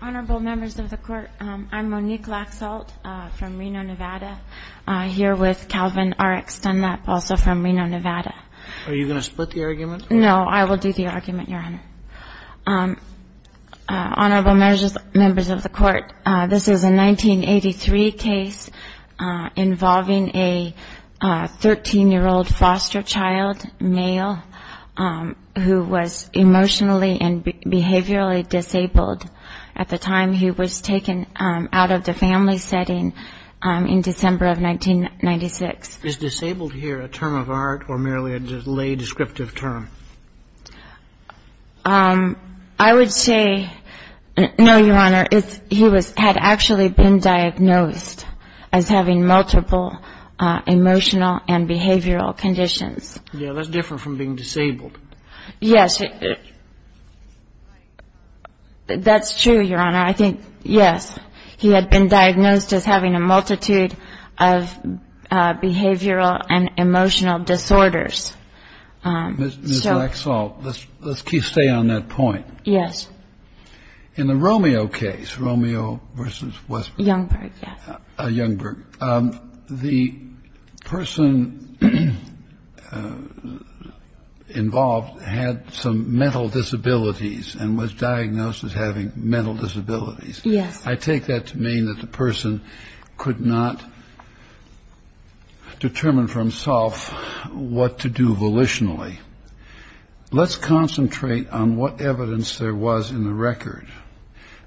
Honorable members of the court, I'm Monique Laxalt from Reno, Nevada, here with Calvin R.X. Dunlap, also from Reno, Nevada. Are you going to split the argument? No, I will do the argument, Your Honor. Honorable members of the court, this is a 1983 case involving a 13-year-old foster child, male, who was emotionally and behaviorally disabled at the time he was taken out of the family setting in December of 1996. Is disabled here a term of art or merely a lay descriptive term? I would say, no, Your Honor, he had actually been diagnosed as having multiple emotional and behavioral conditions. Yeah, that's different from being disabled. Yes, that's true, Your Honor. I think, yes, he had been diagnosed as having a multitude of behavioral and emotional disorders. Ms. Laxalt, let's stay on that point. Yes. In the Romeo case, Romeo v. Westbrook. Youngberg, yes. Youngberg. The person involved had some mental disabilities and was diagnosed as having mental disabilities. Yes. I take that to mean that the person could not determine for himself what to do volitionally. Let's concentrate on what evidence there was in the record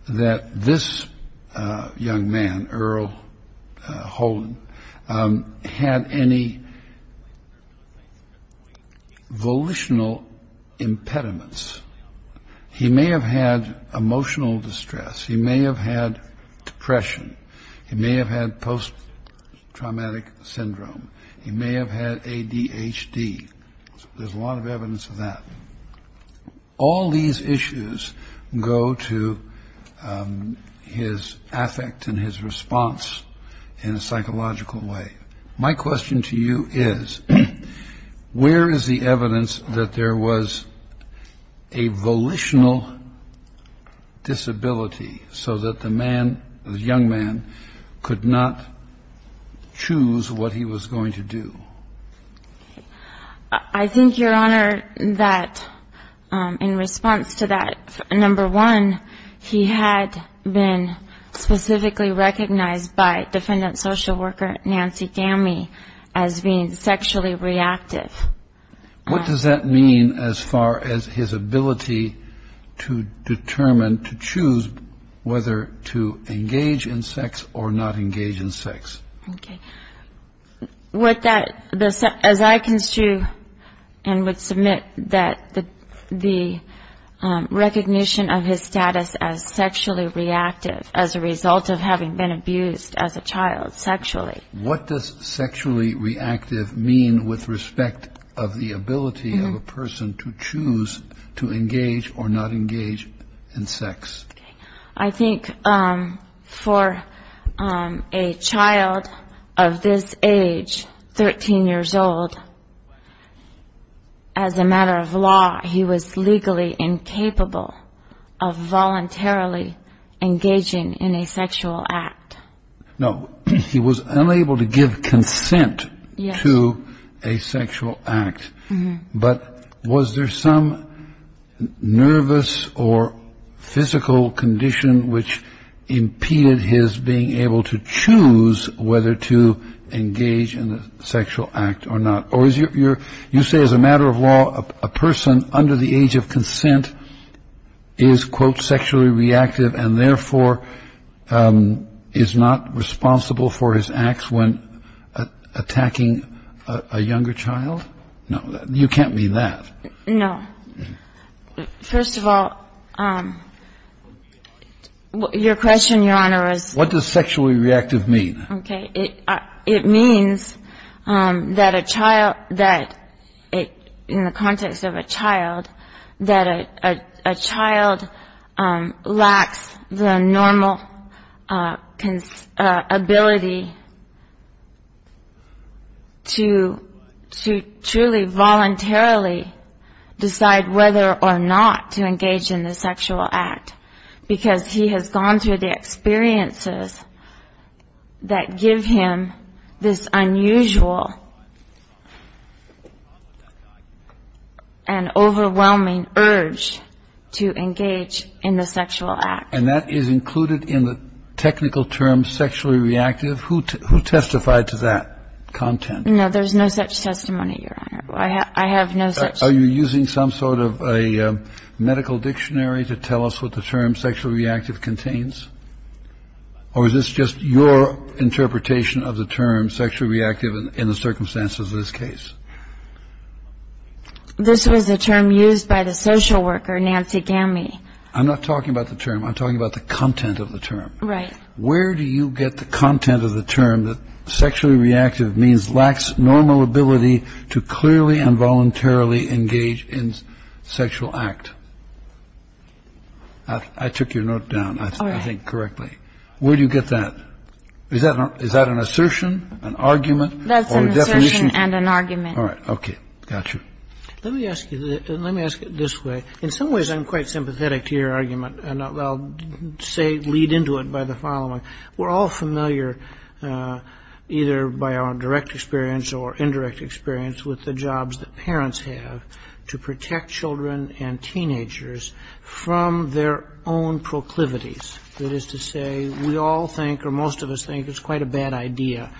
that this young man, Earl Holden, had any volitional impediments. He may have had emotional distress. He may have had depression. He may have had post-traumatic syndrome. He may have had ADHD. There's a lot of evidence of that. All these issues go to his affect and his response in a psychological way. My question to you is, where is the evidence that there was a volitional disability so that the young man could not choose what he was going to do? I think, Your Honor, that in response to that, number one, he had been specifically recognized by defendant social worker Nancy Gamme as being sexually reactive. What does that mean as far as his ability to determine, to choose whether to engage in sex or not engage in sex? As I construe and would submit that the recognition of his status as sexually reactive as a result of having been abused as a child sexually. What does sexually reactive mean with respect of the ability of a person to choose to engage or not engage in sex? I think for a child of this age, 13 years old, as a matter of law, he was legally incapable of voluntarily engaging in a sexual act. No, he was unable to give consent to a sexual act. But was there some nervous or physical condition which impeded his being able to choose whether to engage in a sexual act or not? You say as a matter of law, a person under the age of consent is, quote, sexually reactive and therefore is not responsible for his acts when attacking a younger child? No, you can't mean that. No. First of all, your question, Your Honor, is. What does sexually reactive mean? Okay. It means that a child, that in the context of a child, that a child lacks the normal ability to truly voluntarily decide whether or not to engage in the sexual act because he has gone through the experiences that give him this unusual and overwhelming urge to engage in the sexual act. And that is included in the technical term sexually reactive? Who testified to that content? No, there's no such testimony, Your Honor. I have no such. Are you using some sort of a medical dictionary to tell us what the term sexually reactive contains? Or is this just your interpretation of the term sexually reactive in the circumstances of this case? This was a term used by the social worker, Nancy Gammy. I'm not talking about the term. I'm talking about the content of the term. Right. Where do you get the content of the term that sexually reactive means lacks normal ability to clearly and voluntarily engage in sexual act? I took your note down, I think, correctly. All right. Where do you get that? Is that an assertion, an argument, or a definition? That's an assertion and an argument. All right. Okay. Got you. Let me ask it this way. In some ways, I'm quite sympathetic to your argument, and I'll lead into it by the following. We're all familiar, either by our direct experience or indirect experience, with the jobs that parents have to protect children and teenagers from their own proclivities. That is to say, we all think or most of us think it's quite a bad idea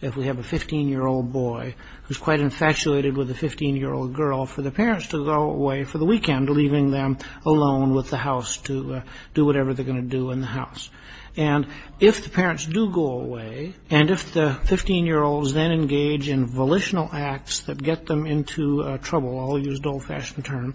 if we have a 15-year-old boy who's quite infatuated with a 15-year-old girl for the parents to go away for the weekend, leaving them alone with the house to do whatever they're going to do in the house. And if the parents do go away, and if the 15-year-olds then engage in volitional acts that get them into trouble, I'll use an old-fashioned term,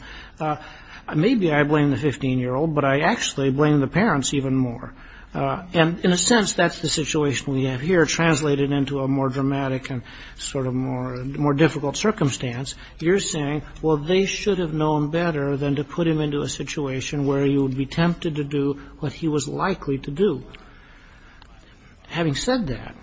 maybe I blame the 15-year-old, but I actually blame the parents even more. And in a sense, that's the situation we have here, translated into a more dramatic and sort of more difficult circumstance. You're saying, well, they should have known better than to put him into a situation where he would be tempted to do what he was likely to do. Having said that,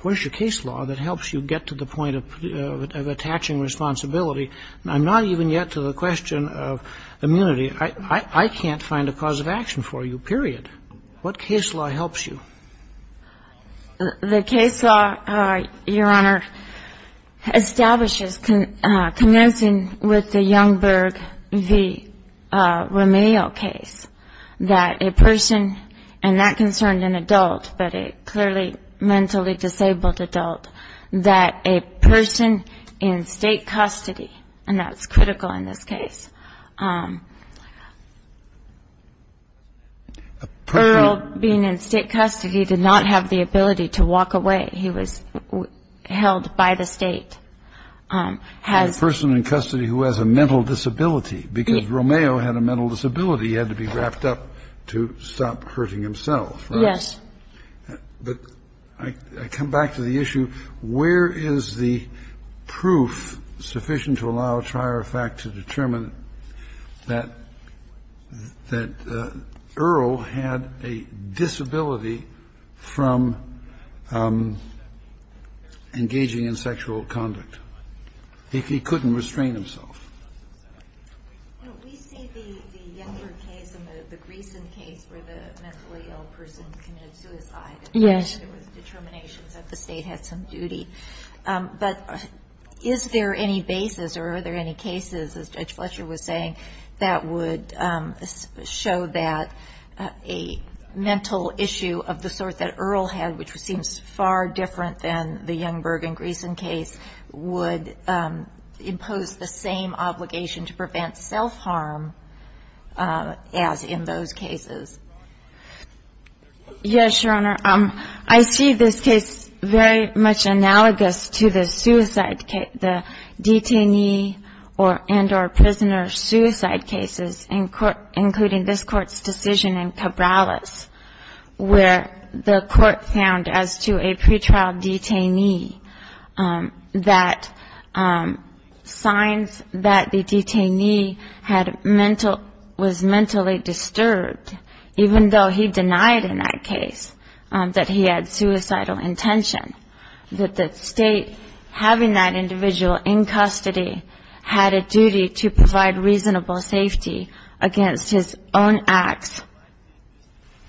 where's your case law that helps you get to the point of attaching responsibility? I'm not even yet to the question of immunity. I can't find a cause of action for you, period. What case law helps you? The case law, Your Honor, establishes, connosing with the Youngberg v. Romeo case, that a person, and that concerned an adult but a clearly mentally disabled adult, that a person in state custody, and that's critical in this case, Earl, being in state custody, did not have the ability to walk away. He was held by the state. A person in custody who has a mental disability, because Romeo had a mental disability. He had to be wrapped up to stop hurting himself. Yes. But I come back to the issue, where is the proof sufficient to allow a trier of fact to determine that Earl had a disability from engaging in sexual conduct? He couldn't restrain himself. We see the Youngberg case and the Griesen case where the mentally ill person committed suicide. Yes. There was determination that the state had some duty. But is there any basis or are there any cases, as Judge Fletcher was saying, that would show that a mental issue of the sort that Earl had, which seems far different than the Youngberg and Griesen case, would impose the same obligation to prevent self-harm as in those cases? Yes, Your Honor. I see this case very much analogous to the suicide, the detainee and or prisoner suicide cases, including this Court's decision in Cabrales, where the Court found as to a pretrial detainee that signs that the detainee was mentally disturbed, even though he denied in that case that he had suicidal intention, that the state having that individual in custody had a duty to provide reasonable safety against his own acts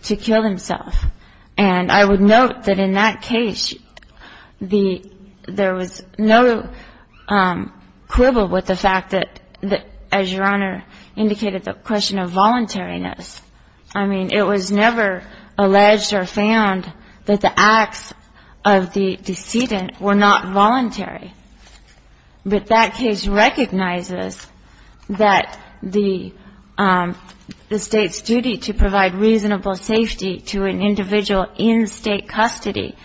to kill himself. And I would note that in that case there was no quibble with the fact that, as Your Honor indicated, the question of voluntariness. I mean, it was never alleged or found that the acts of the decedent were not voluntary. But that case recognizes that the state's duty to provide reasonable safety to an individual in state custody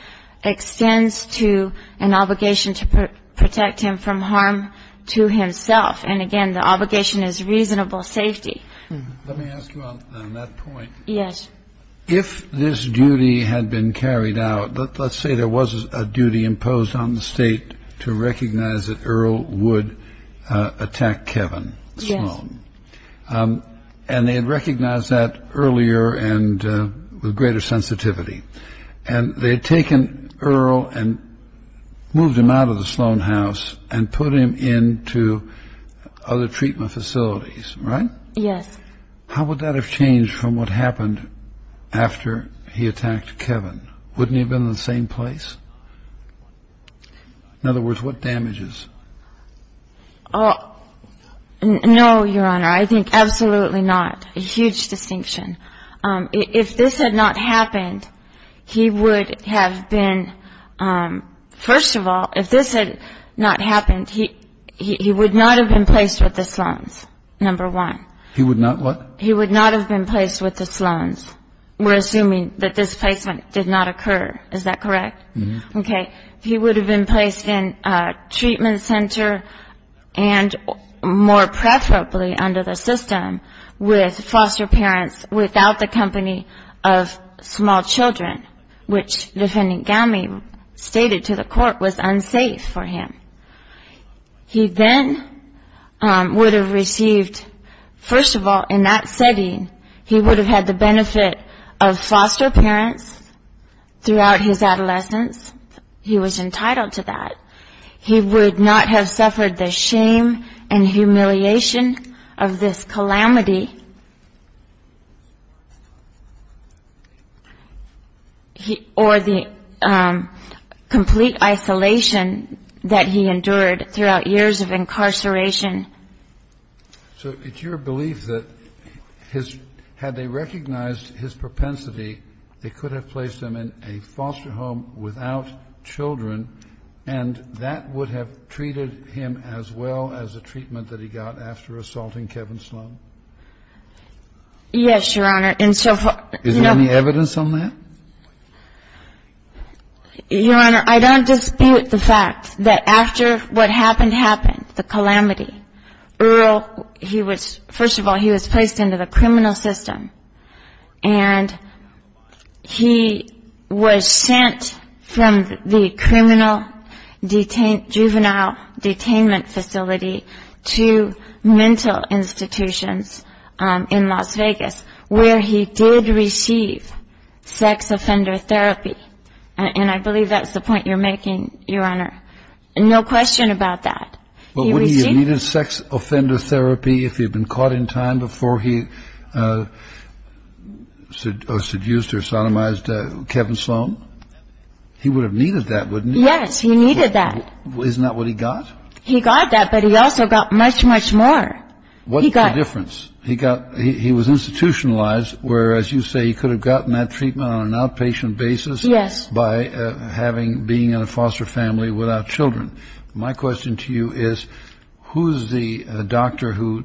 extends to an obligation to protect him from harm to himself. And again, the obligation is reasonable safety. Let me ask you on that point. Yes. If this duty had been carried out, let's say there was a duty imposed on the state to recognize that Earl would attack Kevin Sloan. Yes. And they had recognized that earlier and with greater sensitivity. And they had taken Earl and moved him out of the Sloan house and put him into other treatment facilities, right? Yes. How would that have changed from what happened after he attacked Kevin? Wouldn't he have been in the same place? In other words, what damages? No, Your Honor, I think absolutely not. A huge distinction. If this had not happened, he would have been ‑‑ first of all, if this had not happened, he would not have been placed with the Sloans, number one. He would not what? He would not have been placed with the Sloans. We're assuming that this placement did not occur. Is that correct? Mm-hmm. Okay. He would have been placed in a treatment center and more preferably under the system with foster parents without the company of small children, which Defendant Gowmey stated to the court was unsafe for him. He then would have received, first of all, in that setting, he would have had the benefit of foster parents throughout his adolescence. He was entitled to that. He would not have suffered the shame and humiliation of this calamity or the complete isolation that he endured throughout years of incarceration. So it's your belief that had they recognized his propensity, they could have placed him in a foster home without children, and that would have treated him as well as the treatment that he got after assaulting Kevin Sloan? Yes, Your Honor. Is there any evidence on that? Your Honor, I don't dispute the fact that after what happened happened, the calamity, Earl, first of all, he was placed into the criminal system, and he was sent from the criminal juvenile detainment facility to mental institutions in Las Vegas, where he did receive sex offender therapy. And I believe that's the point you're making, Your Honor. No question about that. But wouldn't he have needed sex offender therapy if he had been caught in time before he seduced or sodomized Kevin Sloan? He would have needed that, wouldn't he? Yes, he needed that. Isn't that what he got? He got that, but he also got much, much more. What's the difference? He was institutionalized, whereas you say he could have gotten that treatment on an outpatient basis by being in a foster family without children. My question to you is who's the doctor who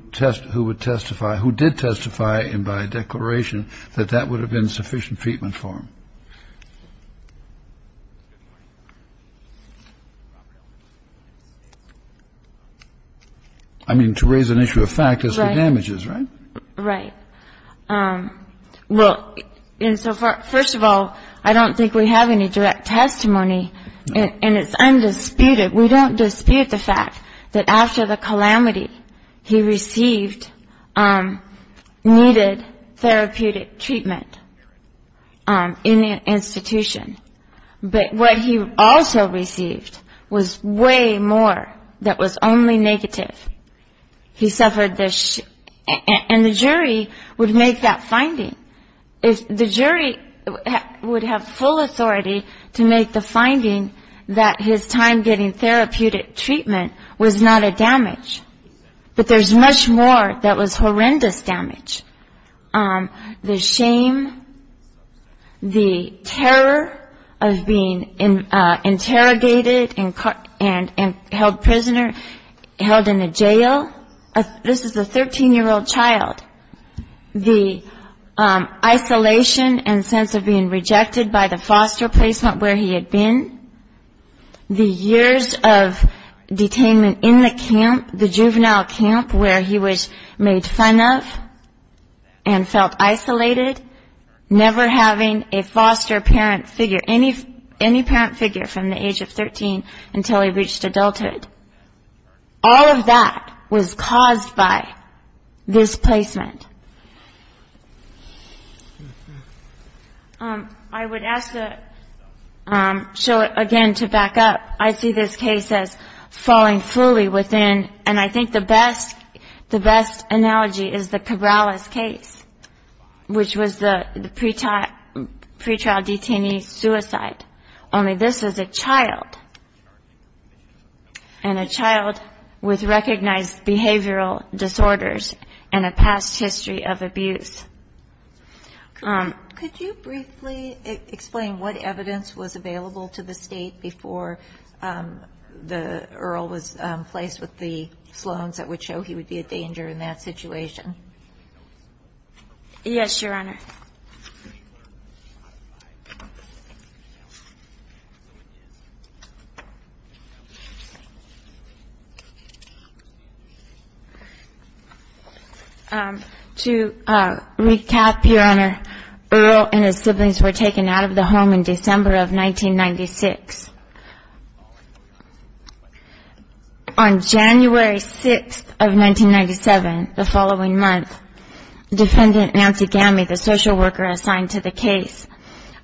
would testify, who did testify, and by declaration that that would have been sufficient treatment for him? I mean, to raise an issue of fact is for damages, right? Right. Well, and so first of all, I don't think we have any direct testimony, and it's undisputed. We don't dispute the fact that after the calamity, he received needed therapeutic treatment in an institution. But what he also received was way more that was only negative. He suffered this, and the jury would make that finding. The jury would have full authority to make the finding that his time getting therapeutic treatment was not a damage, but there's much more that was horrendous damage. The shame, the terror of being interrogated and held prisoner, held in a jail. This is a 13-year-old child. The isolation and sense of being rejected by the foster placement where he had been, the years of detainment in the camp, the juvenile camp where he was made fun of and felt isolated, never having a foster parent figure, any parent figure from the age of 13 until he reached adulthood. All of that was caused by this placement. I would ask to show it again to back up. I see this case as falling fully within, and I think the best analogy is the Cabrales case, which was the pretrial detainee suicide, only this is a child, and a child with recognized behavioral disorders and a past history of abuse. Could you briefly explain what evidence was available to the State before Earl was placed with the Sloans that would show he would be a danger in that situation? Yes, Your Honor. To recap, Your Honor, Earl and his siblings were taken out of the home in December of 1996. On January 6th of 1997, the following month, Defendant Nancy Gammey, the social worker assigned to the case,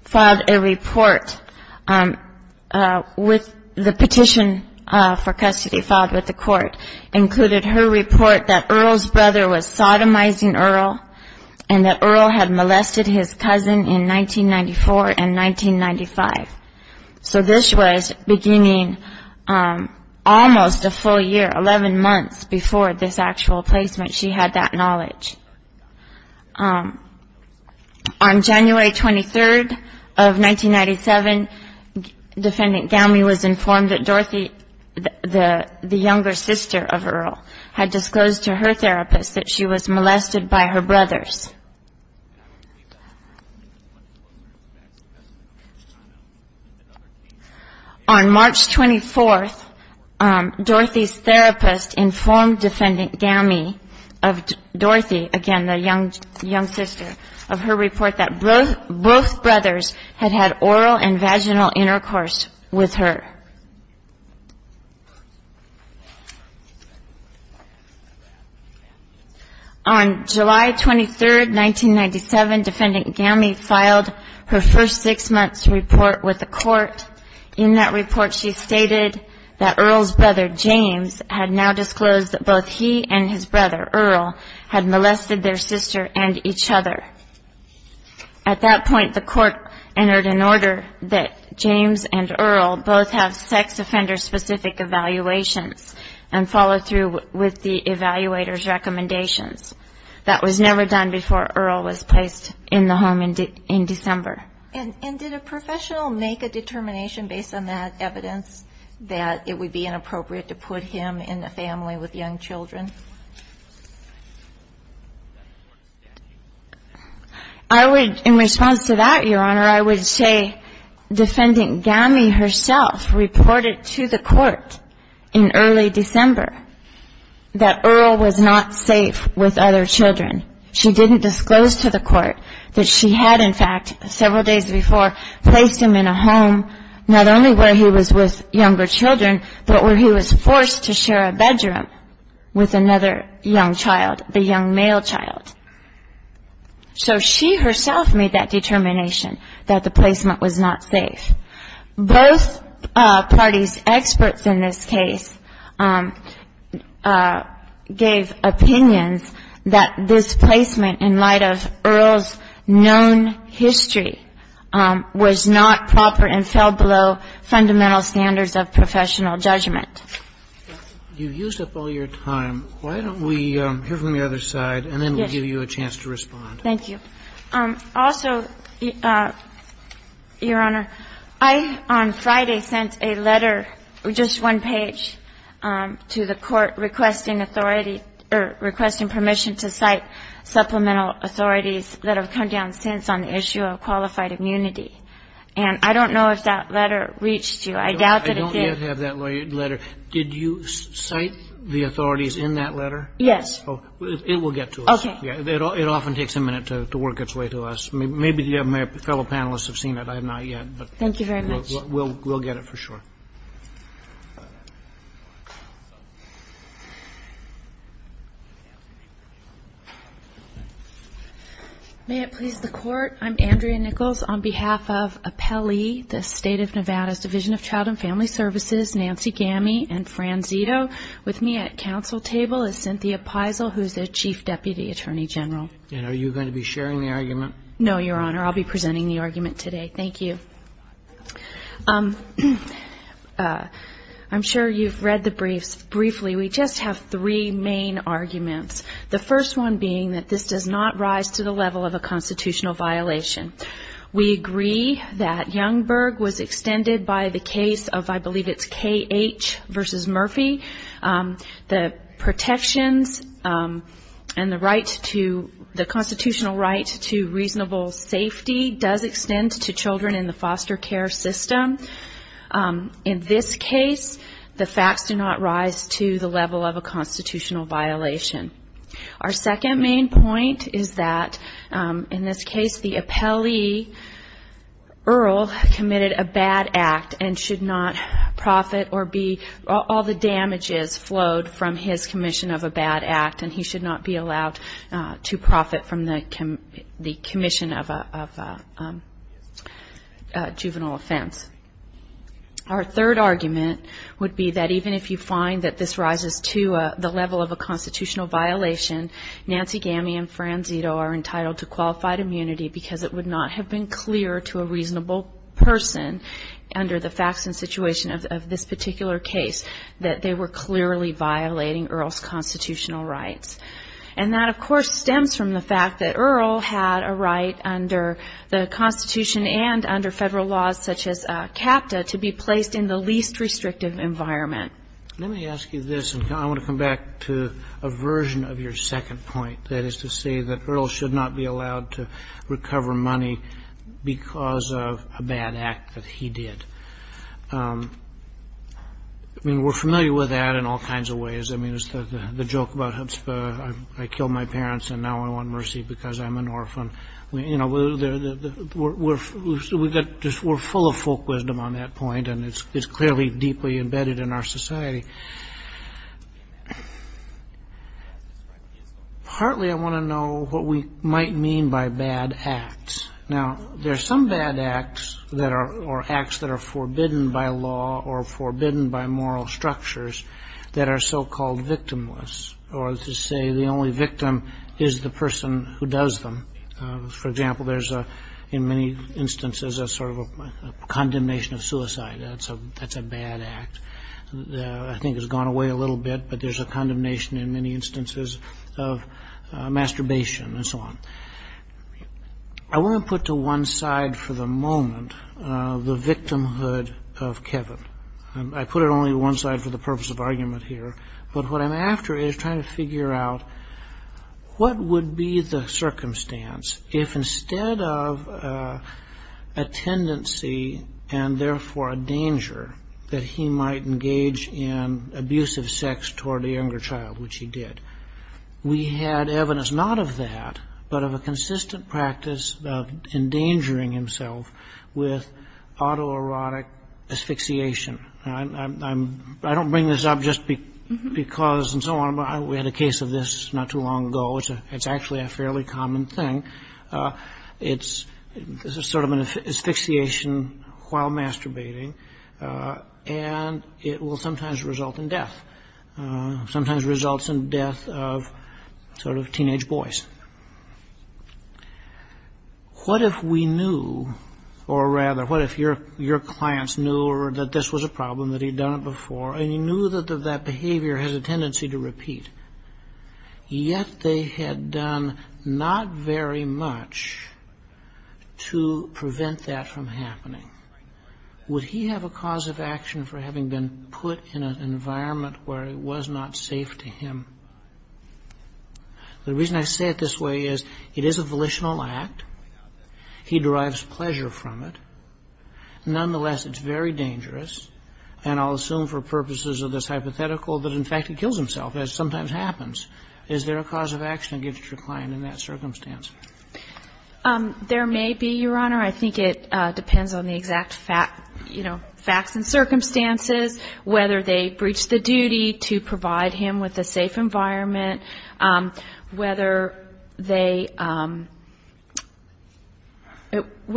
filed a report. The petition for custody filed with the court included her report that Earl's brother was sodomizing Earl and that Earl had molested his cousin in 1994 and 1995. So this was beginning almost a full year, 11 months before this actual placement. She had that knowledge. On January 23rd of 1997, Defendant Gammey was informed that Dorothy, the younger sister of Earl, had disclosed to her therapist that she was molested by her brothers. On March 24th, Dorothy's therapist informed Defendant Gammey of Dorothy, again the young sister, of her report that both brothers had had oral and vaginal intercourse with her. On July 23rd, 1997, Defendant Gammey filed her first six-months report with the court. In that report, she stated that Earl's brother, James, had now disclosed that both he and his brother, Earl, had molested their sister and each other. At that point, the court entered an order that James and Earl both have sex offender-specific evaluations and follow through with the evaluator's recommendations. That was never done before Earl was placed in the home in December. And did a professional make a determination based on that evidence that it would be inappropriate to put him in a family with young children? I would, in response to that, Your Honor, I would say Defendant Gammey herself reported to the court in early December that Earl was not safe with other children. She didn't disclose to the court that she had, in fact, several days before, placed him in a home not only where he was with younger children, but where he was forced to share a bedroom with another young child, the young male child. So she herself made that determination that the placement was not safe. Both parties' experts in this case gave opinions that this placement in light of Earl's known history was not proper and fell below fundamental standards of professional judgment. You've used up all your time. Why don't we hear from the other side and then we'll give you a chance to respond. Thank you. Also, Your Honor, I, on Friday, sent a letter, just one page, to the court requesting permission to cite supplemental authorities that have come down since on the issue of qualified immunity. And I don't know if that letter reached you. I doubt that it did. I don't yet have that letter. Did you cite the authorities in that letter? Yes. It will get to us. Okay. It often takes a minute to work its way to us. Maybe my fellow panelists have seen it. I have not yet. Thank you very much. We'll get it for sure. May it please the Court, I'm Andrea Nichols. On behalf of APELI, the State of Nevada's Division of Child and Family Services, Nancy Gamme and Fran Zito, with me at council table is Cynthia Peisel, who is the Chief Deputy Attorney General. And are you going to be sharing the argument? No, Your Honor. I'll be presenting the argument today. Thank you. I'm sure you've read the briefs. Briefly, we just have three main arguments, the first one being that this does not rise to the level of a constitutional violation. We agree that Youngberg was extended by the case of, I believe it's K.H. v. Murphy. The protections and the constitutional right to reasonable safety does extend to children in the foster care system. In this case, the facts do not rise to the level of a constitutional violation. Our second main point is that, in this case, the APELI Earl committed a bad act and should not profit or be all the damages flowed from his commission of a bad act, and he should not be allowed to profit from the commission of a juvenile offense. Our third argument would be that, even if you find that this rises to the level of a constitutional violation, Nancy Gamme and Fran Zito are entitled to qualified immunity because it would not have been clear to a reasonable person under the facts and situation of this particular case that they were clearly violating Earl's constitutional rights. And that, of course, stems from the fact that Earl had a right under the Constitution and under Federal laws such as CAPTA to be placed in the least restrictive environment. Let me ask you this, and I want to come back to a version of your second point, that is to say that Earl should not be allowed to recover money because of a bad act that he did. I mean, we're familiar with that in all kinds of ways. I mean, the joke about I killed my parents and now I want mercy because I'm an orphan. You know, we're full of folk wisdom on that point, and it's clearly deeply embedded in our society. Partly I want to know what we might mean by bad acts. Now, there are some bad acts or acts that are forbidden by law or forbidden by moral structures that are so-called victimless, or to say the only victim is the person who does them. For example, there's in many instances a sort of a condemnation of suicide. That's a bad act. I think it's gone away a little bit, but there's a condemnation in many instances of masturbation and so on. I want to put to one side for the moment the victimhood of Kevin. I put it only to one side for the purpose of argument here, but what I'm after is trying to figure out what would be the circumstance if instead of a tendency and therefore a danger that he might engage in abusive sex toward a younger child, which he did, we had evidence not of that, but of a consistent practice of endangering himself with autoerotic asphyxiation. I don't bring this up just because and so on. We had a case of this not too long ago. It's actually a fairly common thing. It's sort of an asphyxiation while masturbating, and it will sometimes result in death. Sometimes results in death of sort of teenage boys. What if we knew, or rather what if your clients knew that this was a problem, that he'd done it before, and he knew that that behavior has a tendency to repeat, yet they had done not very much to prevent that from happening? Would he have a cause of action for having been put in an environment where it was not safe to him? The reason I say it this way is it is a volitional act. He derives pleasure from it. Nonetheless, it's very dangerous, and I'll assume for purposes of this hypothetical that in fact he kills himself, as sometimes happens. Is there a cause of action against your client in that circumstance? There may be, Your Honor. I think it depends on the exact facts and circumstances, whether they breached the duty to provide him with a safe environment, whether they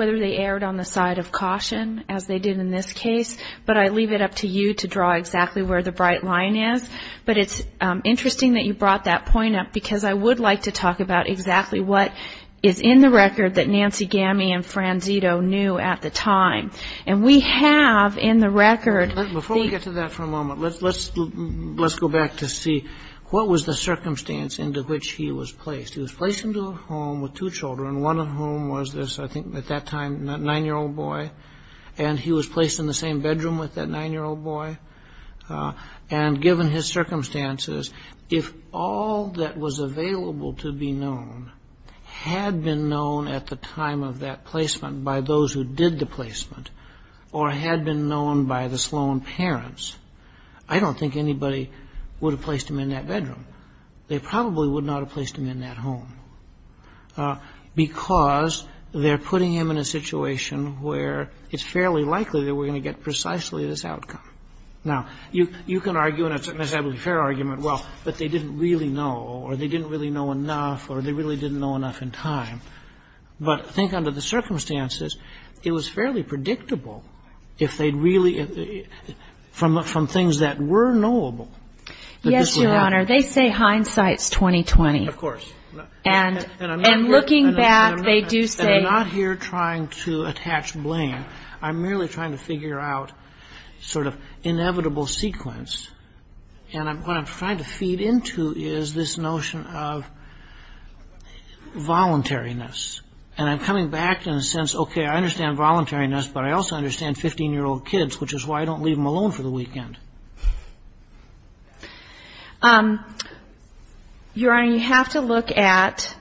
erred on the side of caution, as they did in this case. But I leave it up to you to draw exactly where the bright line is. But it's interesting that you brought that point up because I would like to talk about exactly what is in the record that Nancy Gamme and Franzito knew at the time. And we have in the record the- Before we get to that for a moment, let's go back to see what was the circumstance into which he was placed. He was placed into a home with two children, one of whom was this, I think at that time, 9-year-old boy, and he was placed in the same bedroom with that 9-year-old boy. And given his circumstances, if all that was available to be known had been known at the time of that placement by those who did the placement or had been known by the Sloan parents, I don't think anybody would have placed him in that bedroom. They probably would not have placed him in that home because they're putting him in a situation where it's fairly likely that we're going to get precisely this outcome. Now, you can argue, and it's a necessarily fair argument, well, but they didn't really know or they didn't really know enough or they really didn't know enough in time. But think under the circumstances. It was fairly predictable if they'd really, from things that were knowable. Yes, Your Honor. They say hindsight's 20-20. And looking back, they do say- And I'm not here trying to attach blame. I'm merely trying to figure out sort of inevitable sequence. And what I'm trying to feed into is this notion of voluntariness. And I'm coming back in a sense, okay, I understand voluntariness, but I also understand 15-year-old kids, which is why I don't leave them alone for the weekend. Your Honor, you have to look at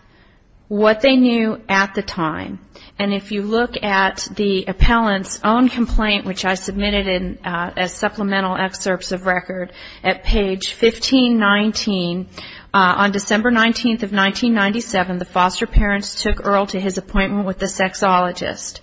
what they knew at the time. And if you look at the appellant's own complaint, which I submitted as supplemental excerpts of record at page 1519, on December 19th of 1997, the foster parents took Earl to his appointment with the sexologist.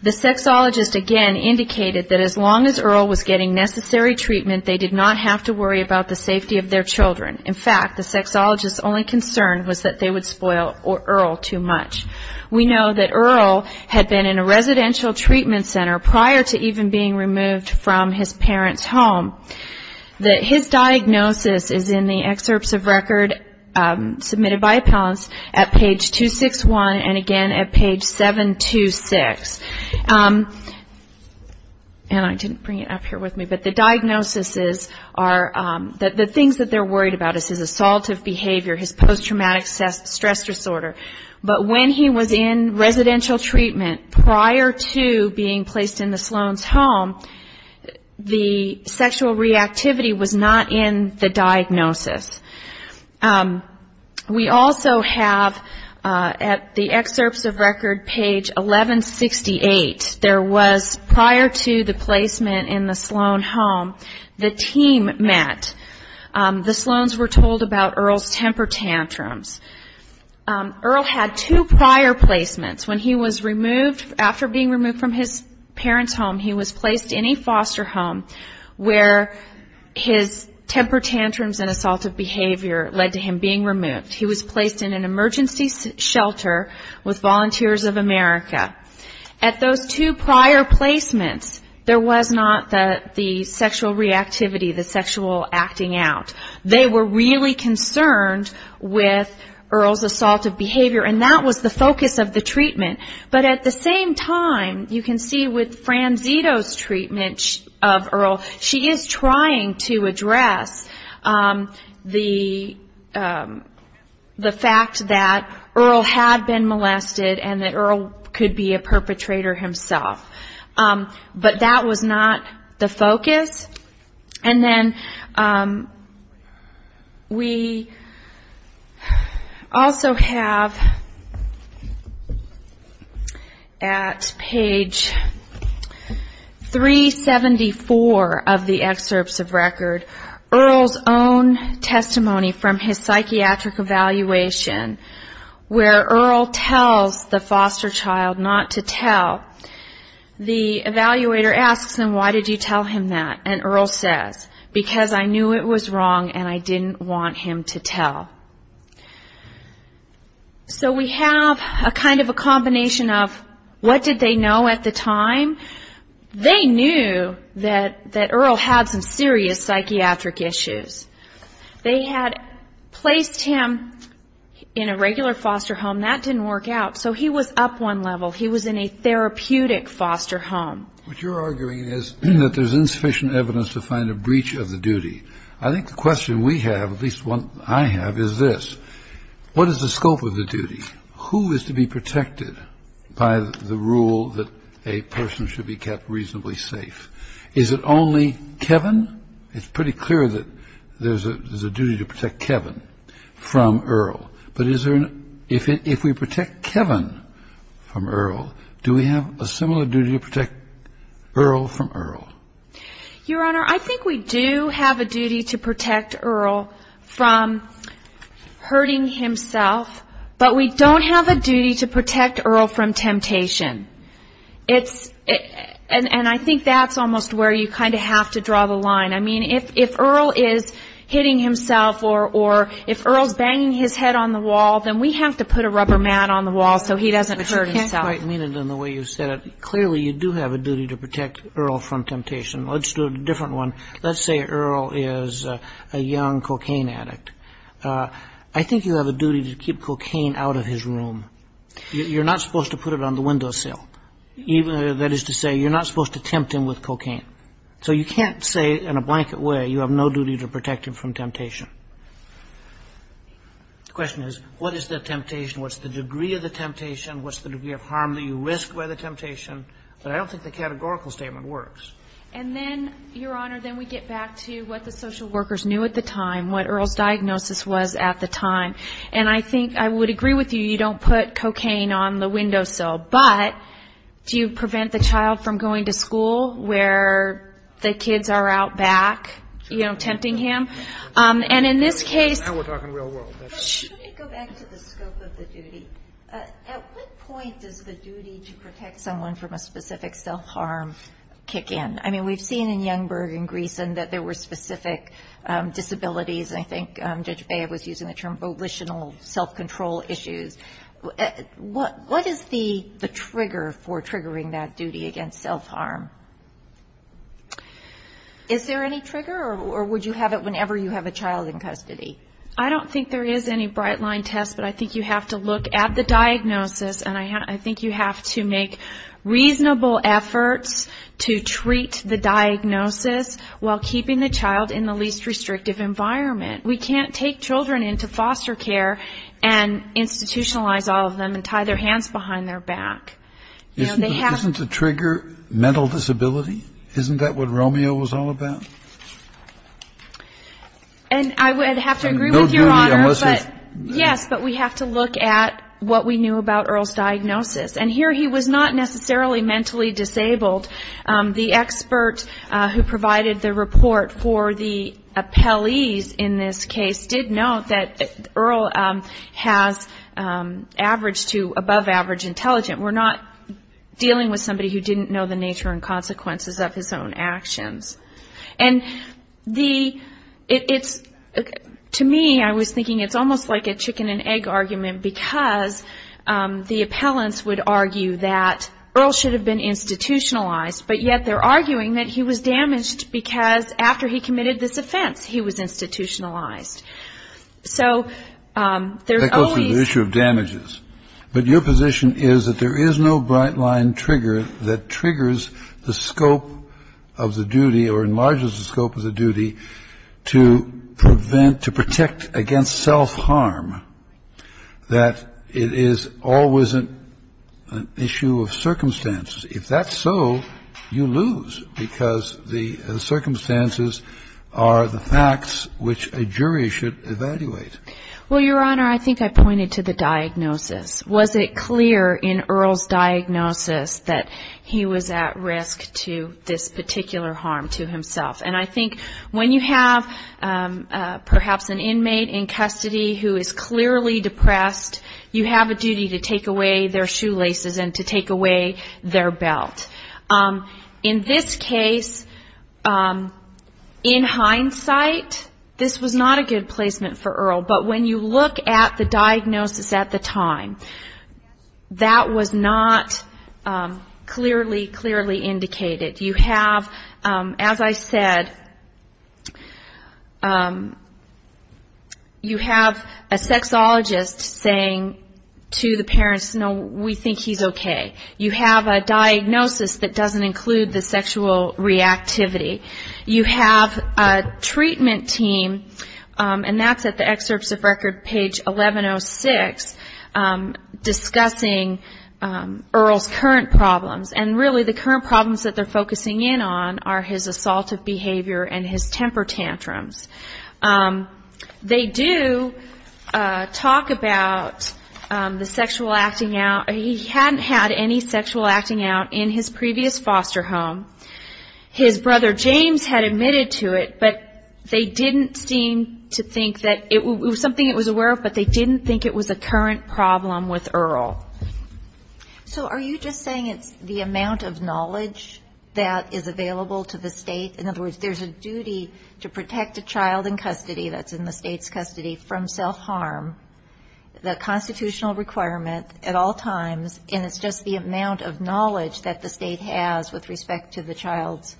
The sexologist, again, indicated that as long as Earl was getting necessary treatment, they did not have to worry about the safety of their children. In fact, the sexologist's only concern was that they would spoil Earl too much. We know that Earl had been in a residential treatment center prior to even being removed from his parents' home. His diagnosis is in the excerpts of record submitted by appellants at page 261, and again at page 726. And I didn't bring it up here with me, but the diagnoses are, the things that they're worried about is his assaultive behavior, his post-traumatic stress disorder. But when he was in residential treatment prior to being placed in the Sloan's home, the sexual reactivity was not in the diagnosis. We also have at the excerpts of record page 1168, there was prior to the placement in the Sloan home, the team met. The Sloans were told about Earl's temper tantrums. Earl had two prior placements. When he was removed, after being removed from his parents' home, he was placed in a foster home where his temper tantrums and assaultive behavior led to him being removed. He was placed in an emergency shelter with Volunteers of America. At those two prior placements, there was not the sexual reactivity, the sexual acting out. They were really concerned with Earl's assaultive behavior, and that was the focus of the treatment. But at the same time, you can see with Franzito's treatment of Earl, she is trying to address the fact that Earl had been molested, and that Earl could be a perpetrator himself. But that was not the focus. And then we also have at page 374 of the excerpts of record, Earl's own testimony from his psychiatric evaluation, where Earl tells the foster child not to tell. The evaluator asks him, why did you tell him that? And Earl says, because I knew it was wrong and I didn't want him to tell. So we have a kind of a combination of what did they know at the time? They knew that Earl had some serious psychiatric issues. They had placed him in a regular foster home. And that didn't work out, so he was up one level. He was in a therapeutic foster home. What you're arguing is that there's insufficient evidence to find a breach of the duty. I think the question we have, at least one I have, is this. What is the scope of the duty? Who is to be protected by the rule that a person should be kept reasonably safe? Is it only Kevin? It's pretty clear that there's a duty to protect Kevin from Earl. But if we protect Kevin from Earl, do we have a similar duty to protect Earl from Earl? Your Honor, I think we do have a duty to protect Earl from hurting himself, but we don't have a duty to protect Earl from temptation. And I think that's almost where you kind of have to draw the line. I mean, if Earl is hitting himself or if Earl's banging his head on the wall, then we have to put a rubber mat on the wall so he doesn't hurt himself. But you can't quite mean it in the way you said it. Clearly, you do have a duty to protect Earl from temptation. Let's do a different one. Let's say Earl is a young cocaine addict. I think you have a duty to keep cocaine out of his room. You're not supposed to put it on the windowsill. That is to say, you're not supposed to tempt him with cocaine. So you can't say in a blanket way you have no duty to protect him from temptation. The question is, what is the temptation? What's the degree of the temptation? What's the degree of harm that you risk by the temptation? But I don't think the categorical statement works. And then, Your Honor, then we get back to what the social workers knew at the time, what Earl's diagnosis was at the time. And I think I would agree with you, you don't put cocaine on the windowsill. But do you prevent the child from going to school where the kids are out back, you know, tempting him? And in this case — Now we're talking real world. Let me go back to the scope of the duty. At what point does the duty to protect someone from a specific self-harm kick in? I mean, we've seen in Youngberg and Greeson that there were specific disabilities, and I think Judge Bea was using the term volitional self-control issues. What is the trigger for triggering that duty against self-harm? Is there any trigger, or would you have it whenever you have a child in custody? I don't think there is any bright-line test, but I think you have to look at the diagnosis, and I think you have to make reasonable efforts to treat the diagnosis while keeping the child in the least restrictive environment. We can't take children into foster care and institutionalize all of them and tie their hands behind their back. Isn't the trigger mental disability? Isn't that what Romeo was all about? And I would have to agree with Your Honor. Yes, but we have to look at what we knew about Earl's diagnosis. And here he was not necessarily mentally disabled. The expert who provided the report for the appellees in this case did note that Earl has average to above-average intelligence. We're not dealing with somebody who didn't know the nature and consequences of his own actions. And to me, I was thinking it's almost like a chicken-and-egg argument because the appellants would argue that Earl should have been institutionalized, but yet they're arguing that he was damaged because after he committed this offense, he was institutionalized. So there's always – That goes to the issue of damages. But your position is that there is no bright-line trigger that triggers the scope of the duty or enlarges the scope of the duty to prevent – to protect against self-harm, that it is always an issue of circumstances. If that's so, you lose because the circumstances are the facts which a jury should evaluate. Well, Your Honor, I think I pointed to the diagnosis. Was it clear in Earl's diagnosis that he was at risk to this particular harm to himself? And I think when you have perhaps an inmate in custody who is clearly depressed, you have a duty to take away their shoelaces and to take away their belt. In this case, in hindsight, this was not a good placement for Earl. But when you look at the diagnosis at the time, that was not clearly, clearly indicated. You have, as I said, you have a sexologist saying to the parents, no, we think he's okay. You have a diagnosis that doesn't include the sexual reactivity. You have a treatment team, and that's at the excerpts of record, page 1106, discussing Earl's current problems. And really the current problems that they're focusing in on are his assaultive behavior and his temper tantrums. They do talk about the sexual acting out. He hadn't had any sexual acting out in his previous foster home. His brother James had admitted to it, but they didn't seem to think that it was something he was aware of, but they didn't think it was a current problem with Earl. So are you just saying it's the amount of knowledge that is available to the state? In other words, there's a duty to protect a child in custody that's in the state's custody from self-harm, the constitutional requirement at all times, and it's just the amount of knowledge that the state has with respect to the child's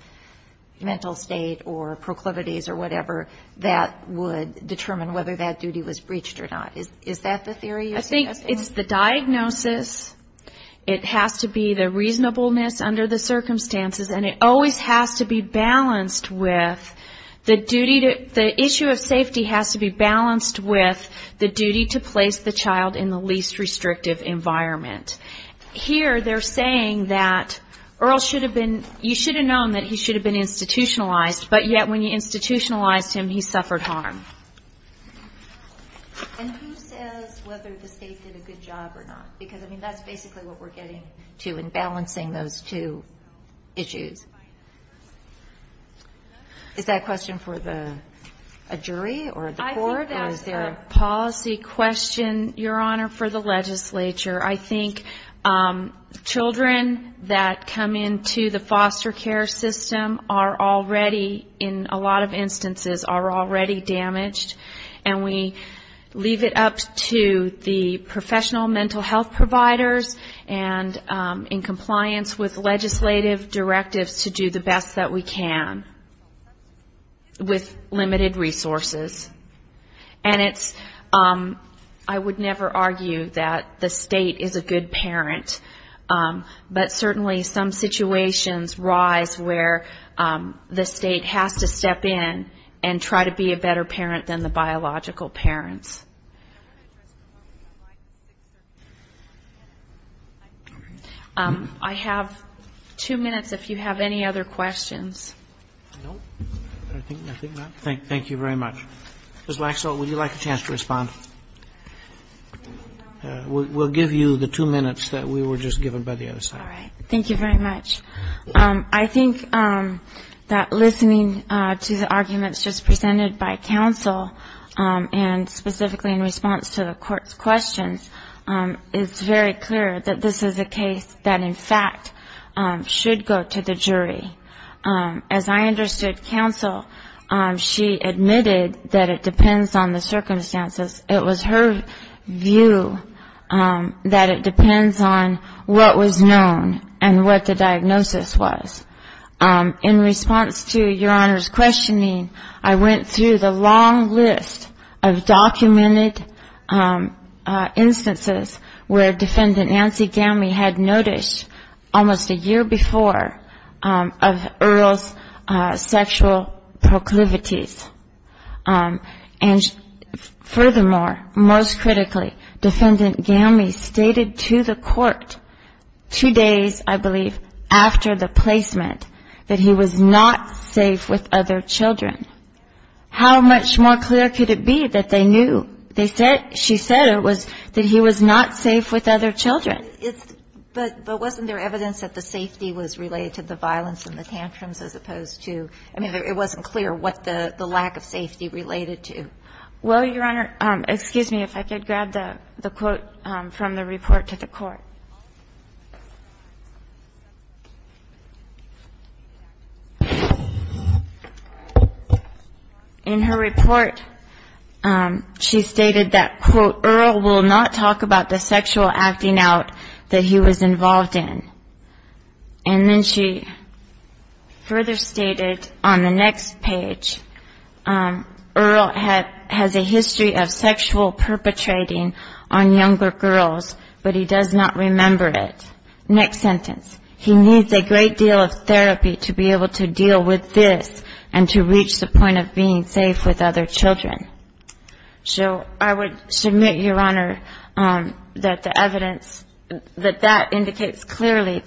mental state or proclivities or whatever that would determine whether that duty was breached or not. Is that the theory you're suggesting? I think it's the diagnosis. It has to be the reasonableness under the circumstances, and it always has to be balanced with the duty to the issue of safety has to be balanced with the duty to place the child in the least restrictive environment. Here they're saying that Earl should have been, you should have known that he should have been institutionalized, but yet when you institutionalized him, he suffered harm. And who says whether the state did a good job or not? Because, I mean, that's basically what we're getting to in balancing those two issues. Is that a question for a jury or the court? I think that's a policy question, Your Honor, for the legislature. I think children that come into the foster care system are already, in a lot of instances, are already damaged, and we leave it up to the professional mental health providers and in compliance with legislative directives to do the best that we can with limited resources. And it's, I would never argue that the state is a good parent, but certainly some situations rise where the state has to step in and try to be a better parent than the biological parents. I have two minutes if you have any other questions. Thank you very much. Ms. Laxalt, would you like a chance to respond? We'll give you the two minutes that we were just given by the other side. All right. Thank you very much. I think that listening to the arguments just presented by counsel and specifically in response to the Court's questions, it's very clear that this is a case that, in fact, should go to the jury. As I understood counsel, she admitted that it depends on the circumstances. It was her view that it depends on what was known and what the diagnosis was. In response to Your Honor's questioning, I went through the long list of documented instances where Defendant Nancy Gamley had noticed almost a year before of Earl's sexual proclivities. And furthermore, most critically, Defendant Gamley stated to the Court two days, I believe, after the placement that he was not safe with other children. How much more clear could it be that they knew? They said, she said it was that he was not safe with other children. But wasn't there evidence that the safety was related to the violence and the tantrums as opposed to, I mean, it wasn't clear what the lack of safety related to. Well, Your Honor, excuse me if I could grab the quote from the report to the Court. In her report, she stated that, quote, Earl will not talk about the sexual acting out that he was involved in. And then she further stated on the next page, Earl has a history of sexual perpetrating on younger girls, but he does not remember it. Next sentence. He needs a great deal of therapy to be able to deal with this and to reach the point of being safe with other children. So I would submit, Your Honor, that the evidence, that that indicates clearly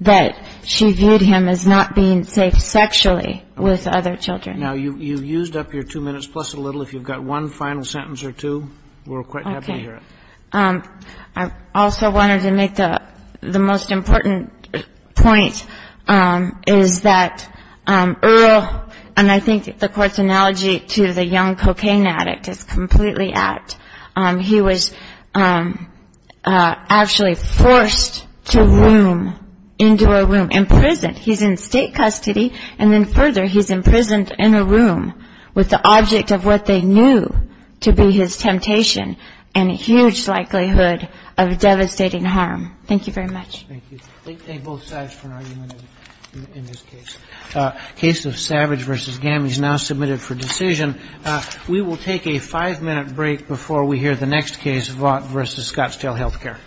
that she viewed him as not being safe sexually with other children. Now, you've used up your two minutes plus a little. If you've got one final sentence or two, we're quite happy to hear it. I also wanted to make the most important point is that Earl, and I think the Court's analogy to the young cocaine addict is completely apt. He was actually forced to room into a room, imprisoned. He's in state custody, and then further he's imprisoned in a room with the object of what they knew to be his temptation and a huge likelihood of devastating harm. Thank you very much. Thank you. Thank both sides for an argument in this case. Case of Savage v. Gamage now submitted for decision. We will take a five-minute break before we hear the next case, Vaught v. Scottsdale Healthcare.